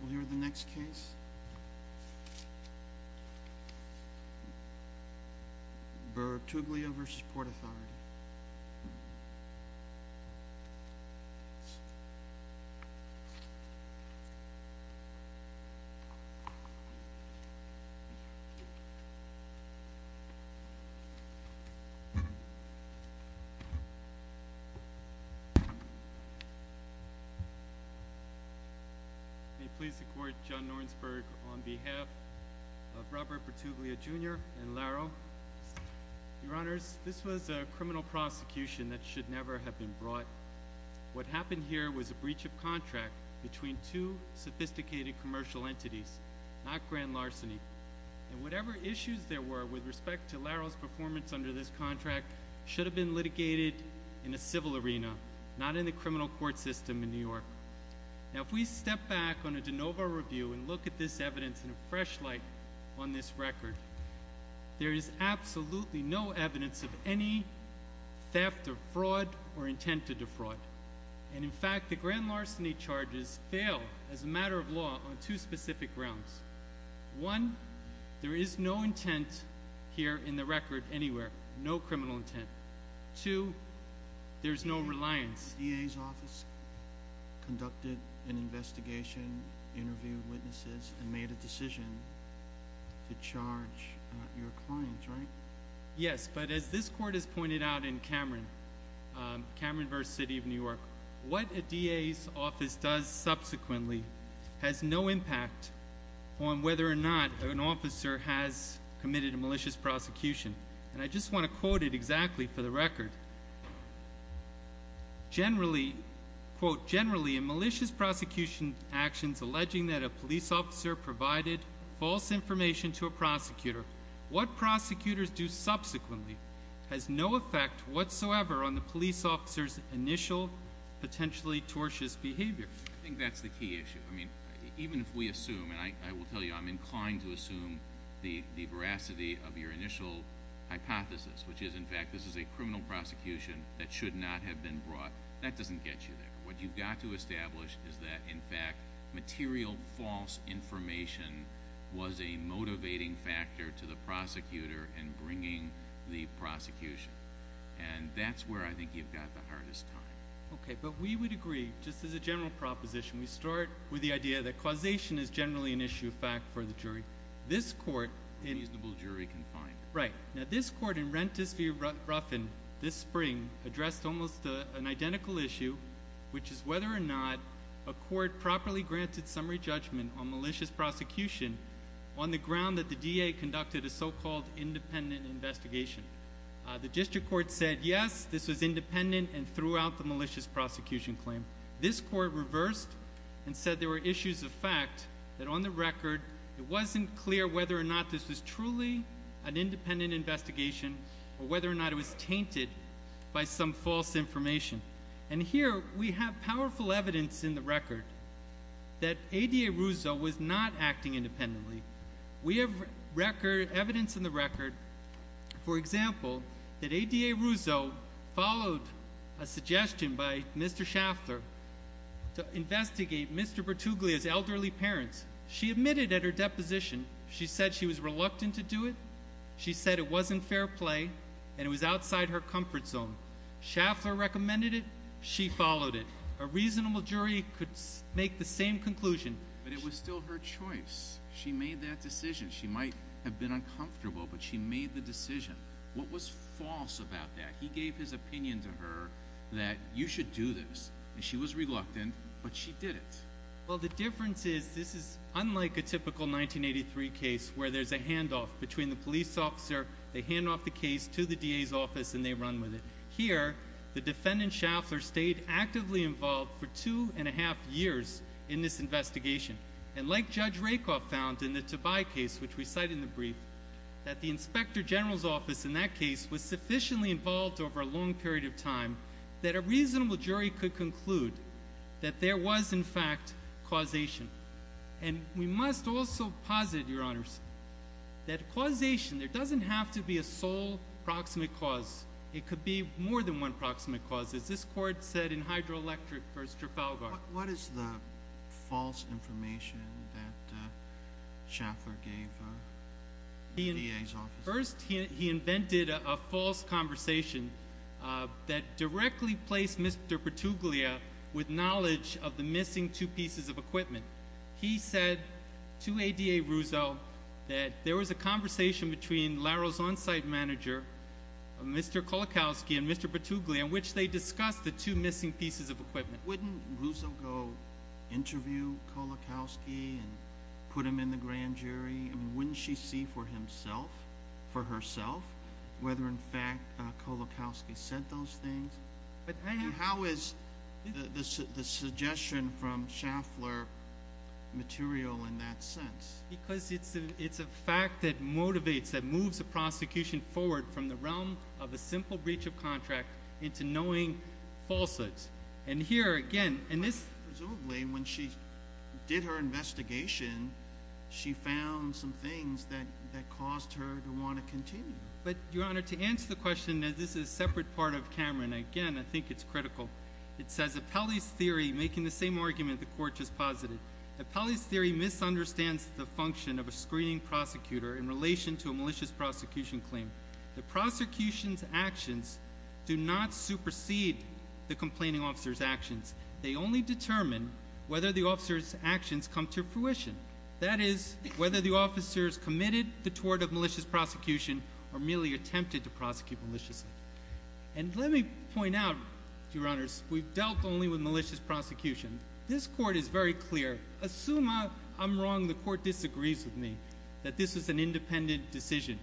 We'll hear the next case. Bertuglia v. Port Authority May it please the Court, John Nornsberg on behalf of Robert Bertuglia Jr. and Laro. Your Honors, this was a criminal prosecution that should never have been brought. What happened here was a breach of contract between two sophisticated commercial entities, not grand larceny. And whatever issues there were with respect to Laro's performance under this contract should have been litigated in a civil arena, not in the criminal court system in New York. Now if we step back on a de novo review and look at this evidence in a fresh light on this record, there is absolutely no evidence of any theft or fraud or intent to defraud. And in fact, the grand larceny charges fail as a matter of law on two specific grounds. One, there is no intent here in the record anywhere, no criminal intent. Two, there's no reliance. The DA's office conducted an investigation, interviewed witnesses, and made a decision to charge your clients, right? Yes, but as this Court has pointed out in Cameron v. City of New York, what a DA's office does subsequently has no impact on whether or not an officer has committed a malicious prosecution. And I just want to quote it exactly for the record. Generally, quote, generally in malicious prosecution actions alleging that a police officer provided false information to a prosecutor, what prosecutors do subsequently has no effect whatsoever on the police officer's initial potentially tortious behavior. I think that's the key issue. I mean, even if we assume, and I will tell you I'm inclined to assume the veracity of your initial hypothesis, which is, in fact, this is a criminal prosecution that should not have been brought, that doesn't get you there. What you've got to establish is that, in fact, material false information was a motivating factor to the prosecutor in bringing the prosecution. And that's where I think you've got the hardest time. Okay, but we would agree, just as a general proposition, we start with the idea that causation is generally an issue of fact for the jury. A reasonable jury can find. Right. Now, this court in Rentis v. Ruffin this spring addressed almost an identical issue, which is whether or not a court properly granted summary judgment on malicious prosecution on the ground that the DA conducted a so-called independent investigation. The district court said, yes, this was independent and threw out the malicious prosecution claim. This court reversed and said there were issues of fact that, on the record, it wasn't clear whether or not this was truly an independent investigation or whether or not it was tainted by some false information. And here, we have powerful evidence in the record that ADA Russo was not acting independently. We have evidence in the record, for example, that ADA Russo followed a suggestion by Mr. Schaffler to investigate Mr. Bertuglia's elderly parents. She admitted at her deposition she said she was reluctant to do it. She said it wasn't fair play and it was outside her comfort zone. Schaffler recommended it. She followed it. A reasonable jury could make the same conclusion. But it was still her choice. She made that decision. She might have been uncomfortable, but she made the decision. What was false about that? He gave his opinion to her that you should do this, and she was reluctant, but she did it. Well, the difference is this is unlike a typical 1983 case where there's a handoff between the police officer, they hand off the case to the DA's office, and they run with it. Here, the defendant, Schaffler, stayed actively involved for two and a half years in this investigation. And like Judge Rakoff found in the Tobai case, which we cite in the brief, that the Inspector General's office in that case was sufficiently involved over a long period of time that a reasonable jury could conclude that there was, in fact, causation. And we must also posit, Your Honors, that causation, there doesn't have to be a sole proximate cause. It could be more than one proximate cause, as this court said in Hydroelectric v. Trafalgar. What is the false information that Schaffler gave the DA's office? First, he invented a false conversation that directly placed Mr. Petuglia with knowledge of the missing two pieces of equipment. He said to ADA Ruzzo that there was a conversation between Laro's on-site manager, Mr. Kolakowski, and Mr. Petuglia, in which they discussed the two missing pieces of equipment. Wouldn't Ruzzo go interview Kolakowski and put him in the grand jury? Wouldn't she see for herself whether, in fact, Kolakowski said those things? How is the suggestion from Schaffler material in that sense? Because it's a fact that motivates, that moves the prosecution forward from the realm of a simple breach of contract into knowing falses. Presumably, when she did her investigation, she found some things that caused her to want to continue. But, Your Honor, to answer the question, this is a separate part of Cameron. Again, I think it's critical. It says, Appellee's theory, making the same argument the court just posited. Appellee's theory misunderstands the function of a screening prosecutor in relation to a malicious prosecution claim. The prosecution's actions do not supersede the complaining officer's actions. They only determine whether the officer's actions come to fruition. That is, whether the officers committed the tort of malicious prosecution or merely attempted to prosecute maliciously. And let me point out, Your Honors, we've dealt only with malicious prosecution. This court is very clear. Assume I'm wrong, the court disagrees with me that this is an independent decision.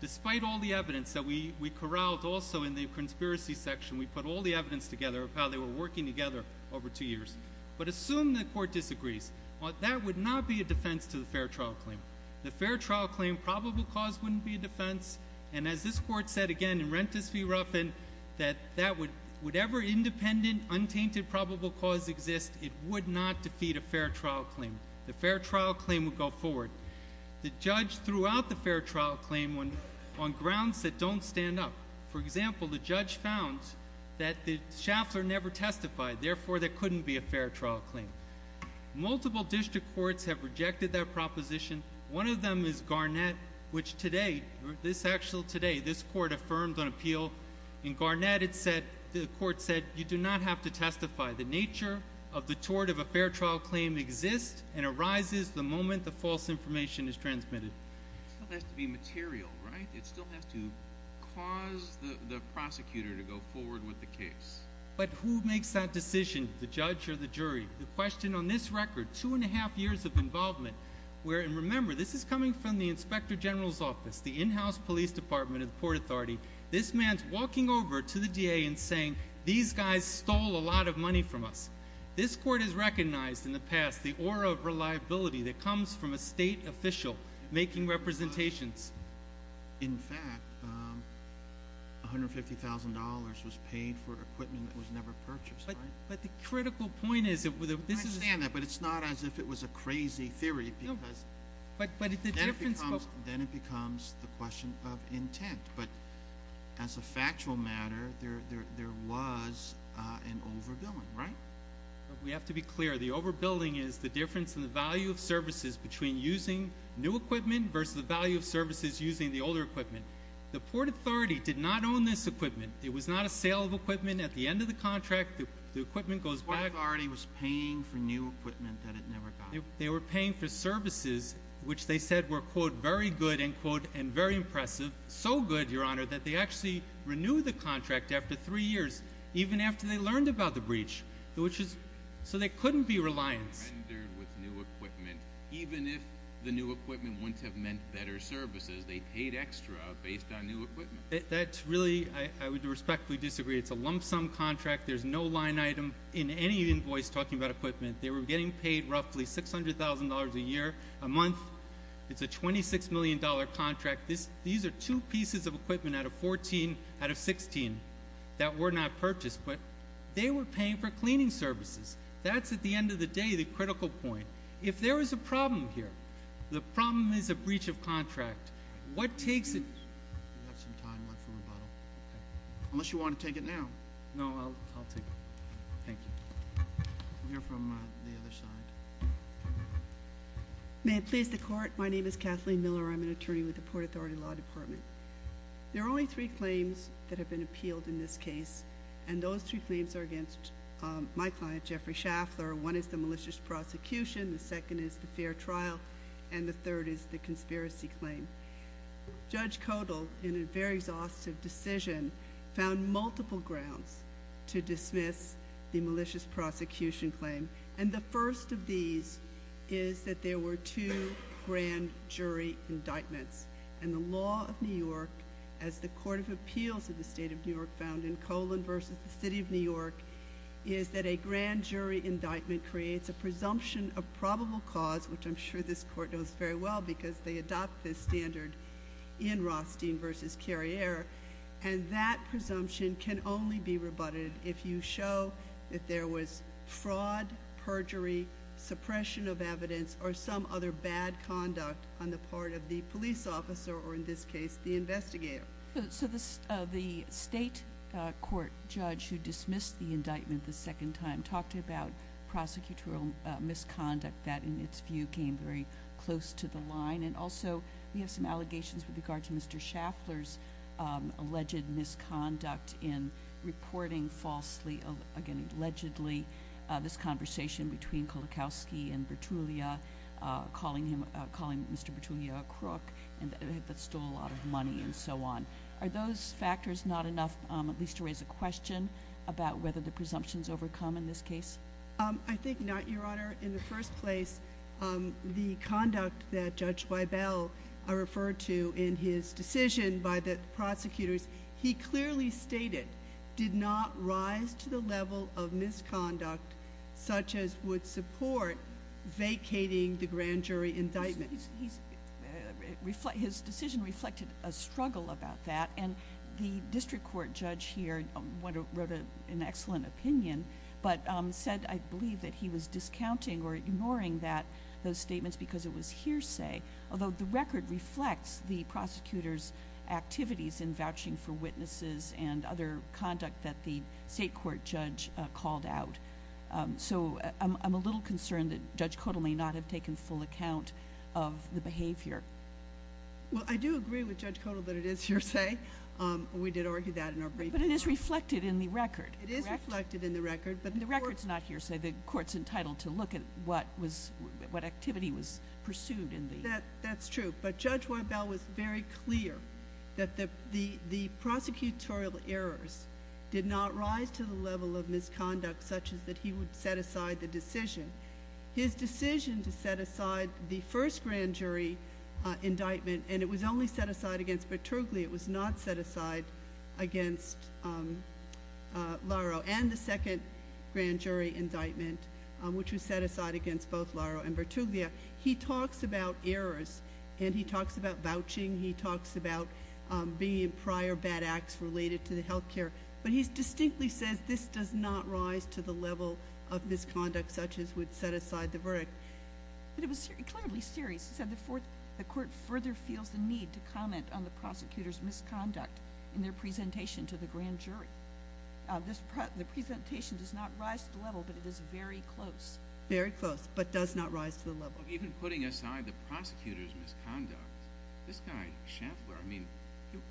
Despite all the evidence that we corralled also in the conspiracy section, we put all the evidence together of how they were working together over two years. But assume the court disagrees. That would not be a defense to the fair trial claim. The fair trial claim probable cause wouldn't be a defense. And as this court said again in Rentis v. Ruffin, that whatever independent, untainted probable cause exists, it would not defeat a fair trial claim. The fair trial claim would go forward. The judge threw out the fair trial claim on grounds that don't stand up. For example, the judge found that the shaffler never testified. Therefore, there couldn't be a fair trial claim. Multiple district courts have rejected that proposition. One of them is Garnett, which today, this actual today, this court affirmed on appeal. In Garnett, it said, the court said, you do not have to testify. The nature of the tort of a fair trial claim exists and arises the moment the false information is transmitted. It still has to be material, right? It still has to cause the prosecutor to go forward with the case. But who makes that decision, the judge or the jury? The question on this record, two and a half years of involvement, where, and remember, this is coming from the Inspector General's office, the in-house police department of the Port Authority. This man's walking over to the DA and saying, these guys stole a lot of money from us. This court has recognized in the past the aura of reliability that comes from a state official making representations. In fact, $150,000 was paid for equipment that was never purchased, right? But the critical point is that this is- I understand that, but it's not as if it was a crazy theory because- No, but the difference- Then it becomes the question of intent. But as a factual matter, there was an overbilling, right? We have to be clear. The overbilling is the difference in the value of services between using new equipment versus the value of services using the older equipment. The Port Authority did not own this equipment. It was not a sale of equipment. At the end of the contract, the equipment goes back- The Port Authority was paying for new equipment that it never got. They were paying for services which they said were, quote, very good, end quote, and very impressive. So good, Your Honor, that they actually renewed the contract after three years, even after they learned about the breach. So they couldn't be reliant. Even if the new equipment wouldn't have meant better services, they paid extra based on new equipment. That's really, I would respectfully disagree. It's a lump sum contract. There's no line item in any invoice talking about equipment. They were getting paid roughly $600,000 a year, a month. It's a $26 million contract. These are two pieces of equipment out of 14, out of 16, that were not purchased. But they were paying for cleaning services. That's, at the end of the day, the critical point. If there is a problem here, the problem is a breach of contract. What takes it- Do you have some time left for rebuttal? Okay. Unless you want to take it now. No, I'll take it. Thank you. We'll hear from the other side. May it please the Court. My name is Kathleen Miller. I'm an attorney with the Port Authority Law Department. There are only three claims that have been appealed in this case. And those three claims are against my client, Jeffrey Schaffler. One is the malicious prosecution. The second is the fair trial. And the third is the conspiracy claim. Judge Kodal, in a very exhaustive decision, found multiple grounds to dismiss the malicious prosecution claim. And the first of these is that there were two grand jury indictments. And the law of New York, as the Court of Appeals of the State of New York found in Colan v. The City of New York, is that a grand jury indictment creates a presumption of probable cause, which I'm sure this Court knows very well, because they adopt this standard in Rothstein v. Carriere. And that presumption can only be rebutted if you show that there was fraud, perjury, suppression of evidence, or some other bad conduct on the part of the police officer, or in this case, the investigator. So the state court judge who dismissed the indictment the second time talked about prosecutorial misconduct that, in its view, came very close to the line. And also we have some allegations with regard to Mr. Schaffler's alleged misconduct in reporting falsely, again, allegedly this conversation between Kolakowski and Bertuglia, calling Mr. Bertuglia a crook that stole a lot of money and so on. Are those factors not enough, at least to raise a question, about whether the presumptions overcome in this case? I think not, Your Honor. In the first place, the conduct that Judge Weibel referred to in his decision by the prosecutors, he clearly stated, did not rise to the level of misconduct such as would support vacating the grand jury indictment. His decision reflected a struggle about that, and the district court judge here wrote an excellent opinion, but said, I believe, that he was discounting or ignoring those statements because it was hearsay, although the record reflects the prosecutor's activities in vouching for witnesses and other conduct that the state court judge called out. So I'm a little concerned that Judge Kotal may not have taken full account of the behavior. Well, I do agree with Judge Kotal that it is hearsay. We did argue that in our briefing. But it is reflected in the record, correct? It is reflected in the record. The record's not hearsay. The court's entitled to look at what activity was pursued in the record. That's true. But Judge Weibel was very clear that the prosecutorial errors did not rise to the level of misconduct such as that he would set aside the decision. His decision to set aside the first grand jury indictment, and it was only set aside against Bertuglia, it was not set aside against Larro, and the second grand jury indictment, which was set aside against both Larro and Bertuglia. He talks about errors, and he talks about vouching. He talks about the prior bad acts related to the health care. But he distinctly says this does not rise to the level of misconduct such as he would set aside the verdict. But it was clearly serious. He said the court further feels the need to comment on the prosecutor's misconduct in their presentation to the grand jury. The presentation does not rise to the level, but it is very close. Very close, but does not rise to the level. Even putting aside the prosecutor's misconduct, this guy, Shantler, I mean,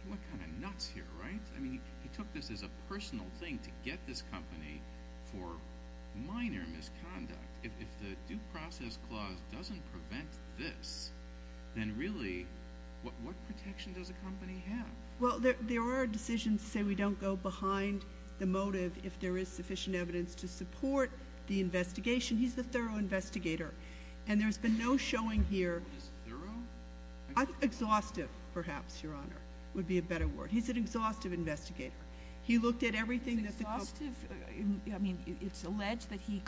what kind of nuts here, right? I mean, he took this as a personal thing to get this company for minor misconduct. If the due process clause doesn't prevent this, then really, what protection does a company have? Well, there are decisions to say we don't go behind the motive if there is sufficient evidence to support the investigation. He's the thorough investigator, and there's been no showing here. What is thorough? Exhaustive, perhaps, Your Honor, would be a better word. He's an exhaustive investigator. He looked at everything that the court. Exhaustive? It's alleged that he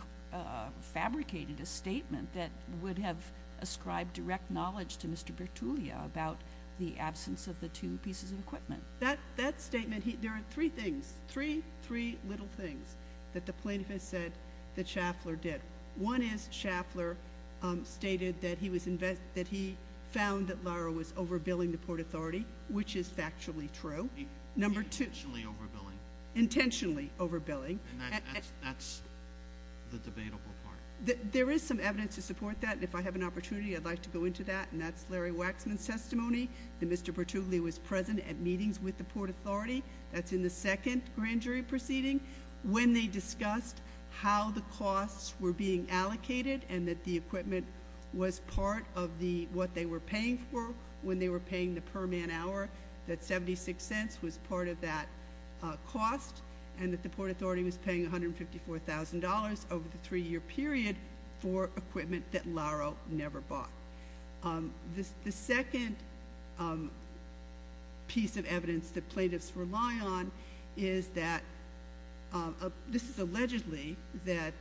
fabricated a statement that would have ascribed direct knowledge to Mr. Bertuglia about the absence of the two pieces of equipment. That statement, there are three things, three little things, that the plaintiff has said that Shantler did. One is Shantler stated that he found that Lara was overbilling the Port Authority, which is factually true. Intentionally overbilling. Intentionally overbilling. That's the debatable part. There is some evidence to support that. If I have an opportunity, I'd like to go into that, and that's Larry Waxman's testimony, that Mr. Bertuglia was present at meetings with the Port Authority. That's in the second grand jury proceeding. When they discussed how the costs were being allocated and that the equipment was part of what they were paying for when they were paying the cost and that the Port Authority was paying $154,000 over the three-year period for equipment that Lara never bought. The second piece of evidence that plaintiffs rely on is that this is allegedly that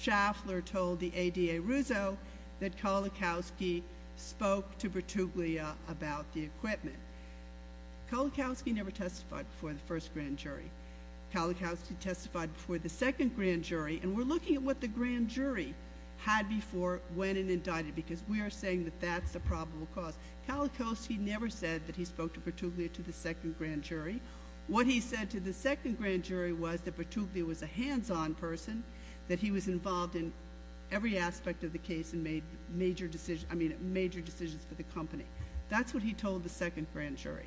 Shantler told the ADA Rousseau that Kolakowski spoke to Bertuglia about the equipment. Kolakowski never testified before the first grand jury. Kolakowski testified before the second grand jury, and we're looking at what the grand jury had before, when, and indicted because we are saying that that's the probable cause. Kolakowski never said that he spoke to Bertuglia to the second grand jury. What he said to the second grand jury was that Bertuglia was a hands-on person, that he was involved in every aspect of the case and made major decisions for the company. That's what he told the second grand jury.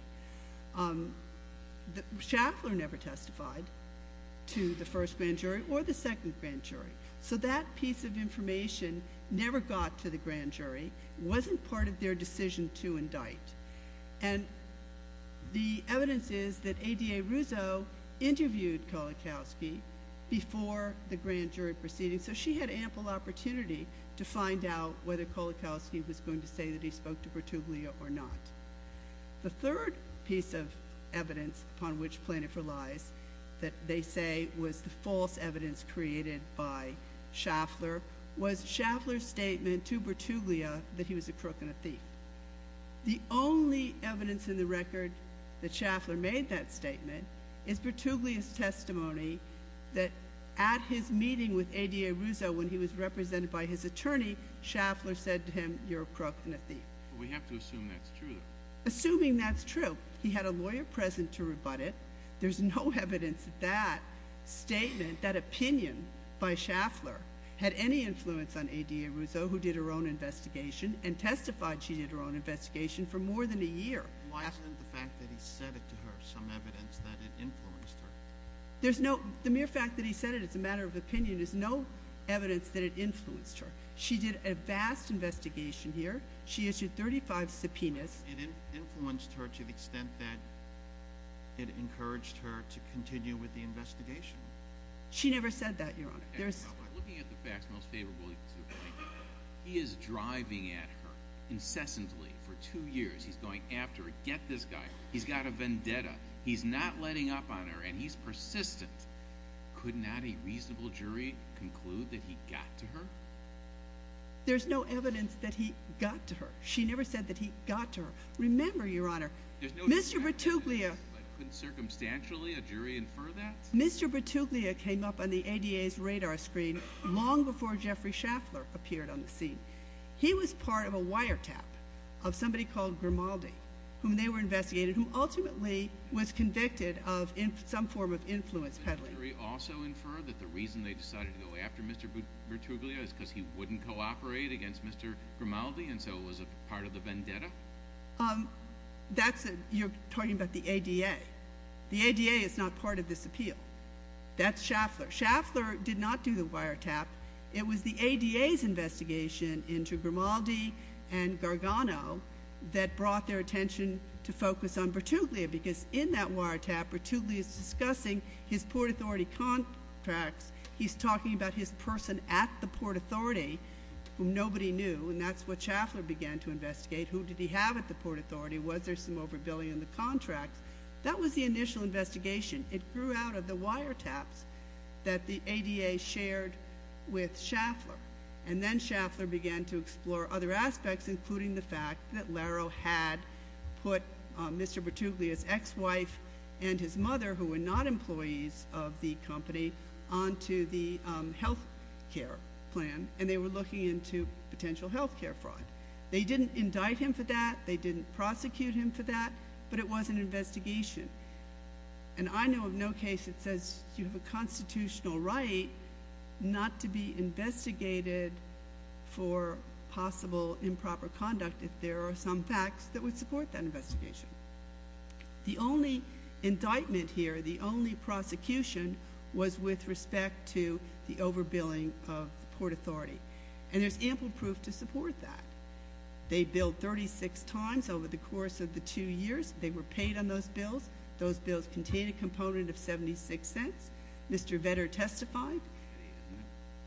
Shantler never testified to the first grand jury or the second grand jury, so that piece of information never got to the grand jury, wasn't part of their decision to indict. And the evidence is that ADA Rousseau interviewed Kolakowski before the grand jury proceeding, so she had ample opportunity to find out whether Bertuglia or not. The third piece of evidence, upon which plaintiff relies, that they say was the false evidence created by Shantler, was Shantler's statement to Bertuglia that he was a crook and a thief. The only evidence in the record that Shantler made that statement is Bertuglia's testimony that at his meeting with ADA Rousseau when he was represented by his attorney, Shantler said to him, We have to assume that's true, though. Assuming that's true, he had a lawyer present to rebut it. There's no evidence that that statement, that opinion by Shantler, had any influence on ADA Rousseau, who did her own investigation, and testified she did her own investigation for more than a year. Why isn't the fact that he said it to her some evidence that it influenced her? The mere fact that he said it as a matter of opinion is no evidence that it influenced her. She did a vast investigation here. She issued 35 subpoenas. It influenced her to the extent that it encouraged her to continue with the investigation. She never said that, Your Honor. Looking at the facts most favorable to the plaintiff, he is driving at her incessantly for two years. He's going after her. Get this guy. He's got a vendetta. He's not letting up on her, and he's persistent. Could not a reasonable jury conclude that he got to her? There's no evidence that he got to her. She never said that he got to her. Remember, Your Honor, Mr. Bertuglia came up on the ADA's radar screen long before Jeffrey Schaffler appeared on the scene. He was part of a wiretap of somebody called Grimaldi, whom they were investigating, who ultimately was convicted of some form of influence peddling. Did the jury also infer that the reason they decided to go after Mr. Bertuglia is because he wouldn't cooperate against Mr. Grimaldi, and so it was part of the vendetta? You're talking about the ADA. The ADA is not part of this appeal. That's Schaffler. Schaffler did not do the wiretap. It was the ADA's investigation into Grimaldi and Gargano that brought their attention to focus on Bertuglia because in that wiretap, Bertuglia is discussing his Port Authority contracts. He's talking about his person at the Port Authority, who nobody knew, and that's what Schaffler began to investigate. Who did he have at the Port Authority? Was there some overbilling in the contracts? That was the initial investigation. It grew out of the wiretaps that the ADA shared with Schaffler, and then Schaffler began to explore other aspects, including the fact that Laro had put Mr. Bertuglia's ex-wife and his mother, who were not employees of the company, onto the health care plan, and they were looking into potential health care fraud. They didn't indict him for that. They didn't prosecute him for that, but it was an investigation, and I know of no case that says you have a constitutional right not to be if there are some facts that would support that investigation. The only indictment here, the only prosecution, was with respect to the overbilling of the Port Authority, and there's ample proof to support that. They billed 36 times over the course of the two years. They were paid on those bills. Those bills contained a component of $0.76. Mr. Vedder testified.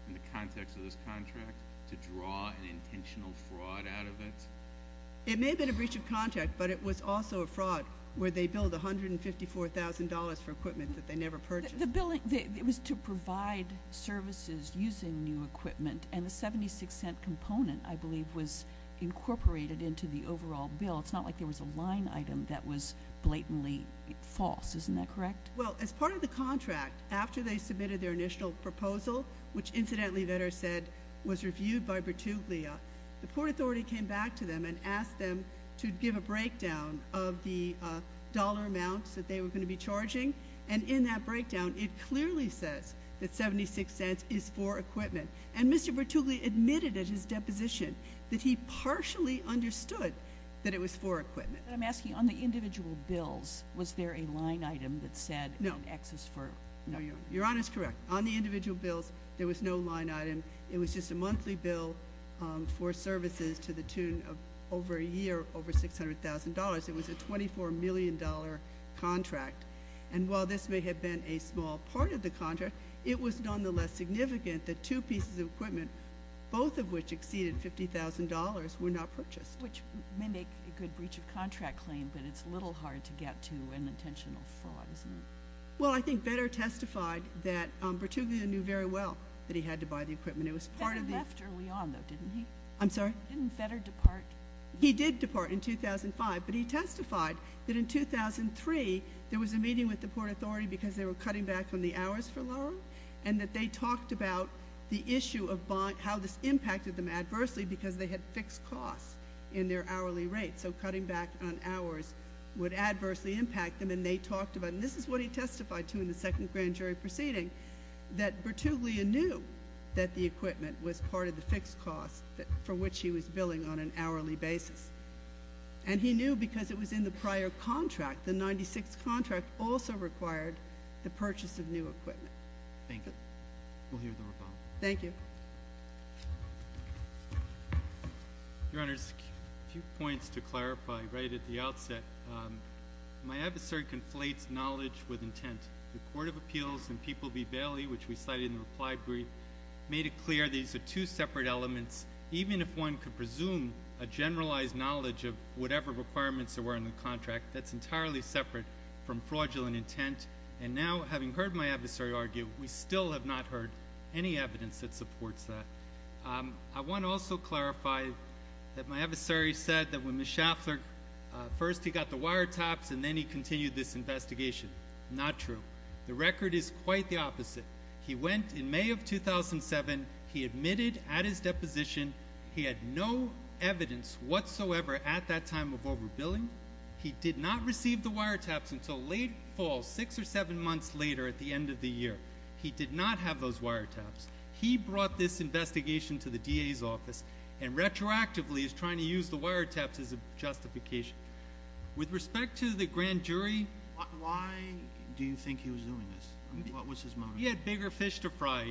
In the context of this contract, to draw an intentional fraud out of it? It may have been a breach of contract, but it was also a fraud where they billed $154,000 for equipment that they never purchased. It was to provide services using new equipment, and the $0.76 component, I believe, was incorporated into the overall bill. It's not like there was a line item that was blatantly false. Isn't that correct? Well, as part of the contract, after they submitted their initial proposal, which incidentally Vedder said was reviewed by Bertuglia, the Port Authority came back to them and asked them to give a breakdown of the dollar amounts that they were going to be charging, and in that breakdown it clearly says that $0.76 is for equipment, and Mr. Bertuglia admitted at his deposition that he partially understood that it was for equipment. I'm asking, on the individual bills, was there a line item that said X is for? No. Your Honor is correct. On the individual bills, there was no line item. It was just a monthly bill for services to the tune of over a year, over $600,000. It was a $24 million contract, and while this may have been a small part of the contract, it was nonetheless significant that two pieces of equipment, both of which exceeded $50,000, were not purchased. Which may make a good breach of contract claim, but it's a little hard to get to an intentional fraud, isn't it? Well, I think Vedder testified that Bertuglia knew very well that he had to buy the equipment. Vedder left early on, though, didn't he? I'm sorry? Didn't Vedder depart? He did depart in 2005, but he testified that in 2003 there was a meeting with the Port Authority because they were cutting back on the hours for loan, and that they talked about the issue of how this impacted them adversely because they had fixed costs in their hourly rate. So cutting back on hours would adversely impact them, and they talked about it. And this is what he testified to in the second grand jury proceeding, that Bertuglia knew that the equipment was part of the fixed costs for which he was billing on an hourly basis, and he knew because it was in the prior contract. The 96th contract also required the purchase of new equipment. Thank you. We'll hear the rebuttal. Thank you. Your Honors, a few points to clarify right at the outset. My adversary conflates knowledge with intent. The Court of Appeals and People v. Bailey, which we cited in the reply brief, made it clear these are two separate elements. Even if one could presume a generalized knowledge of whatever requirements there were in the contract, that's entirely separate from fraudulent intent. And now, having heard my adversary argue, we still have not heard any evidence that supports that. I want to also clarify that my adversary said that when Ms. Schaffler first, he got the wiretaps, and then he continued this investigation. Not true. The record is quite the opposite. He went in May of 2007. He admitted at his deposition he had no evidence whatsoever at that time of overbilling. He did not receive the wiretaps until late fall, six or seven months later at the end of the year. He did not have those wiretaps. He brought this investigation to the DA's office and retroactively is trying to use the wiretaps as a justification. With respect to the grand jury, why do you think he was doing this? What was his motive? He had bigger fish to fry.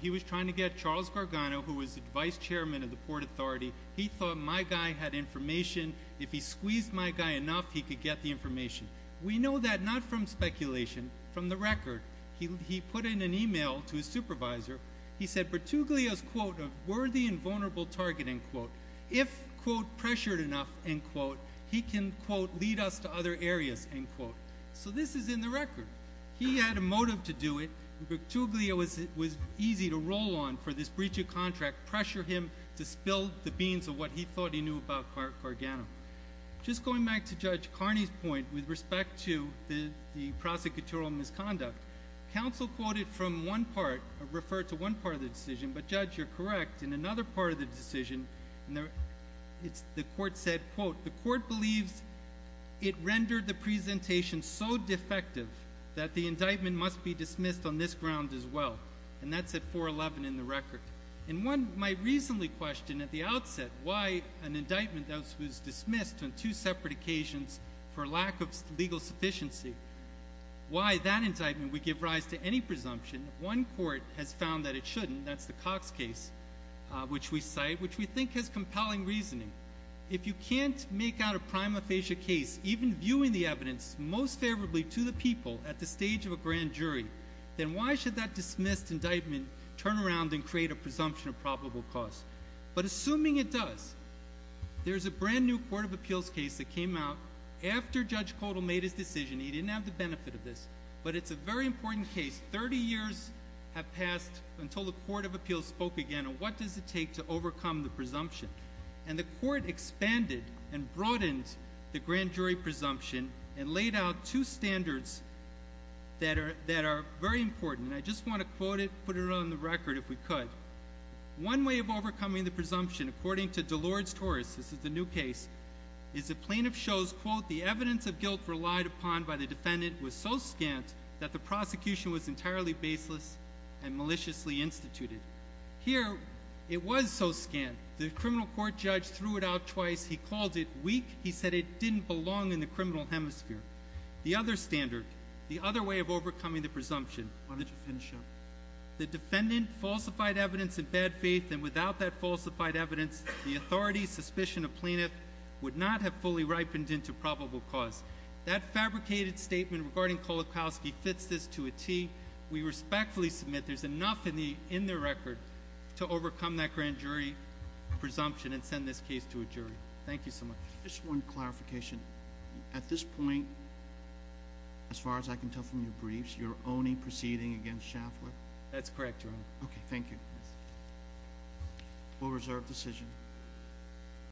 He was trying to get Charles Gargano, who was the vice chairman of the Port Authority, he thought my guy had information. If he squeezed my guy enough, he could get the information. We know that not from speculation, from the record. He put in an email to his supervisor. He said Bertuglio is, quote, a worthy and vulnerable target, end quote. If, quote, pressured enough, end quote, he can, quote, lead us to other areas, end quote. So this is in the record. He had a motive to do it. Bertuglio was easy to roll on for this breach of contract, pressure him to spill the beans of what he thought he knew about Gargano. Just going back to Judge Carney's point with respect to the prosecutorial misconduct, counsel quoted from one part, referred to one part of the decision, but, Judge, you're correct, in another part of the decision, the court said, quote, the court believes it rendered the presentation so defective that the indictment must be dismissed on this ground as well. And that's at 411 in the record. And one might reasonably question at the outset why an indictment that was dismissed on two separate occasions for lack of legal sufficiency, why that indictment would give rise to any presumption. One court has found that it shouldn't. That's the Cox case, which we cite, which we think has compelling reasoning. If you can't make out a prima facie case, even viewing the evidence most favorably to the people at the stage of a grand jury, then why should that dismissed indictment turn around and create a presumption of probable cause? But assuming it does, there's a brand-new court of appeals case that came out after Judge Kotal made his decision. He didn't have the benefit of this. But it's a very important case. Thirty years have passed until the court of appeals spoke again on what does it take to overcome the presumption. And the court expanded and broadened the grand jury presumption and laid out two standards that are very important. And I just want to quote it, put it on the record, if we could. One way of overcoming the presumption, according to Delors-Torres, this is the new case, is the plaintiff shows, quote, the evidence of guilt relied upon by the defendant was so scant that the prosecution was entirely baseless and maliciously instituted. Here, it was so scant. The criminal court judge threw it out twice. He called it weak. He said it didn't belong in the criminal hemisphere. The other standard, the other way of overcoming the presumption. Why don't you finish up? The defendant falsified evidence in bad faith, and without that falsified evidence, the authority, suspicion of plaintiff would not have fully ripened into probable cause. That fabricated statement regarding Kolakowski fits this to a T. We respectfully submit there's enough in the record to overcome that grand jury presumption and send this case to a jury. Thank you so much. Just one clarification. At this point, as far as I can tell from your briefs, you're only proceeding against Shaftler? That's correct, Your Honor. Okay, thank you. We'll reserve decision.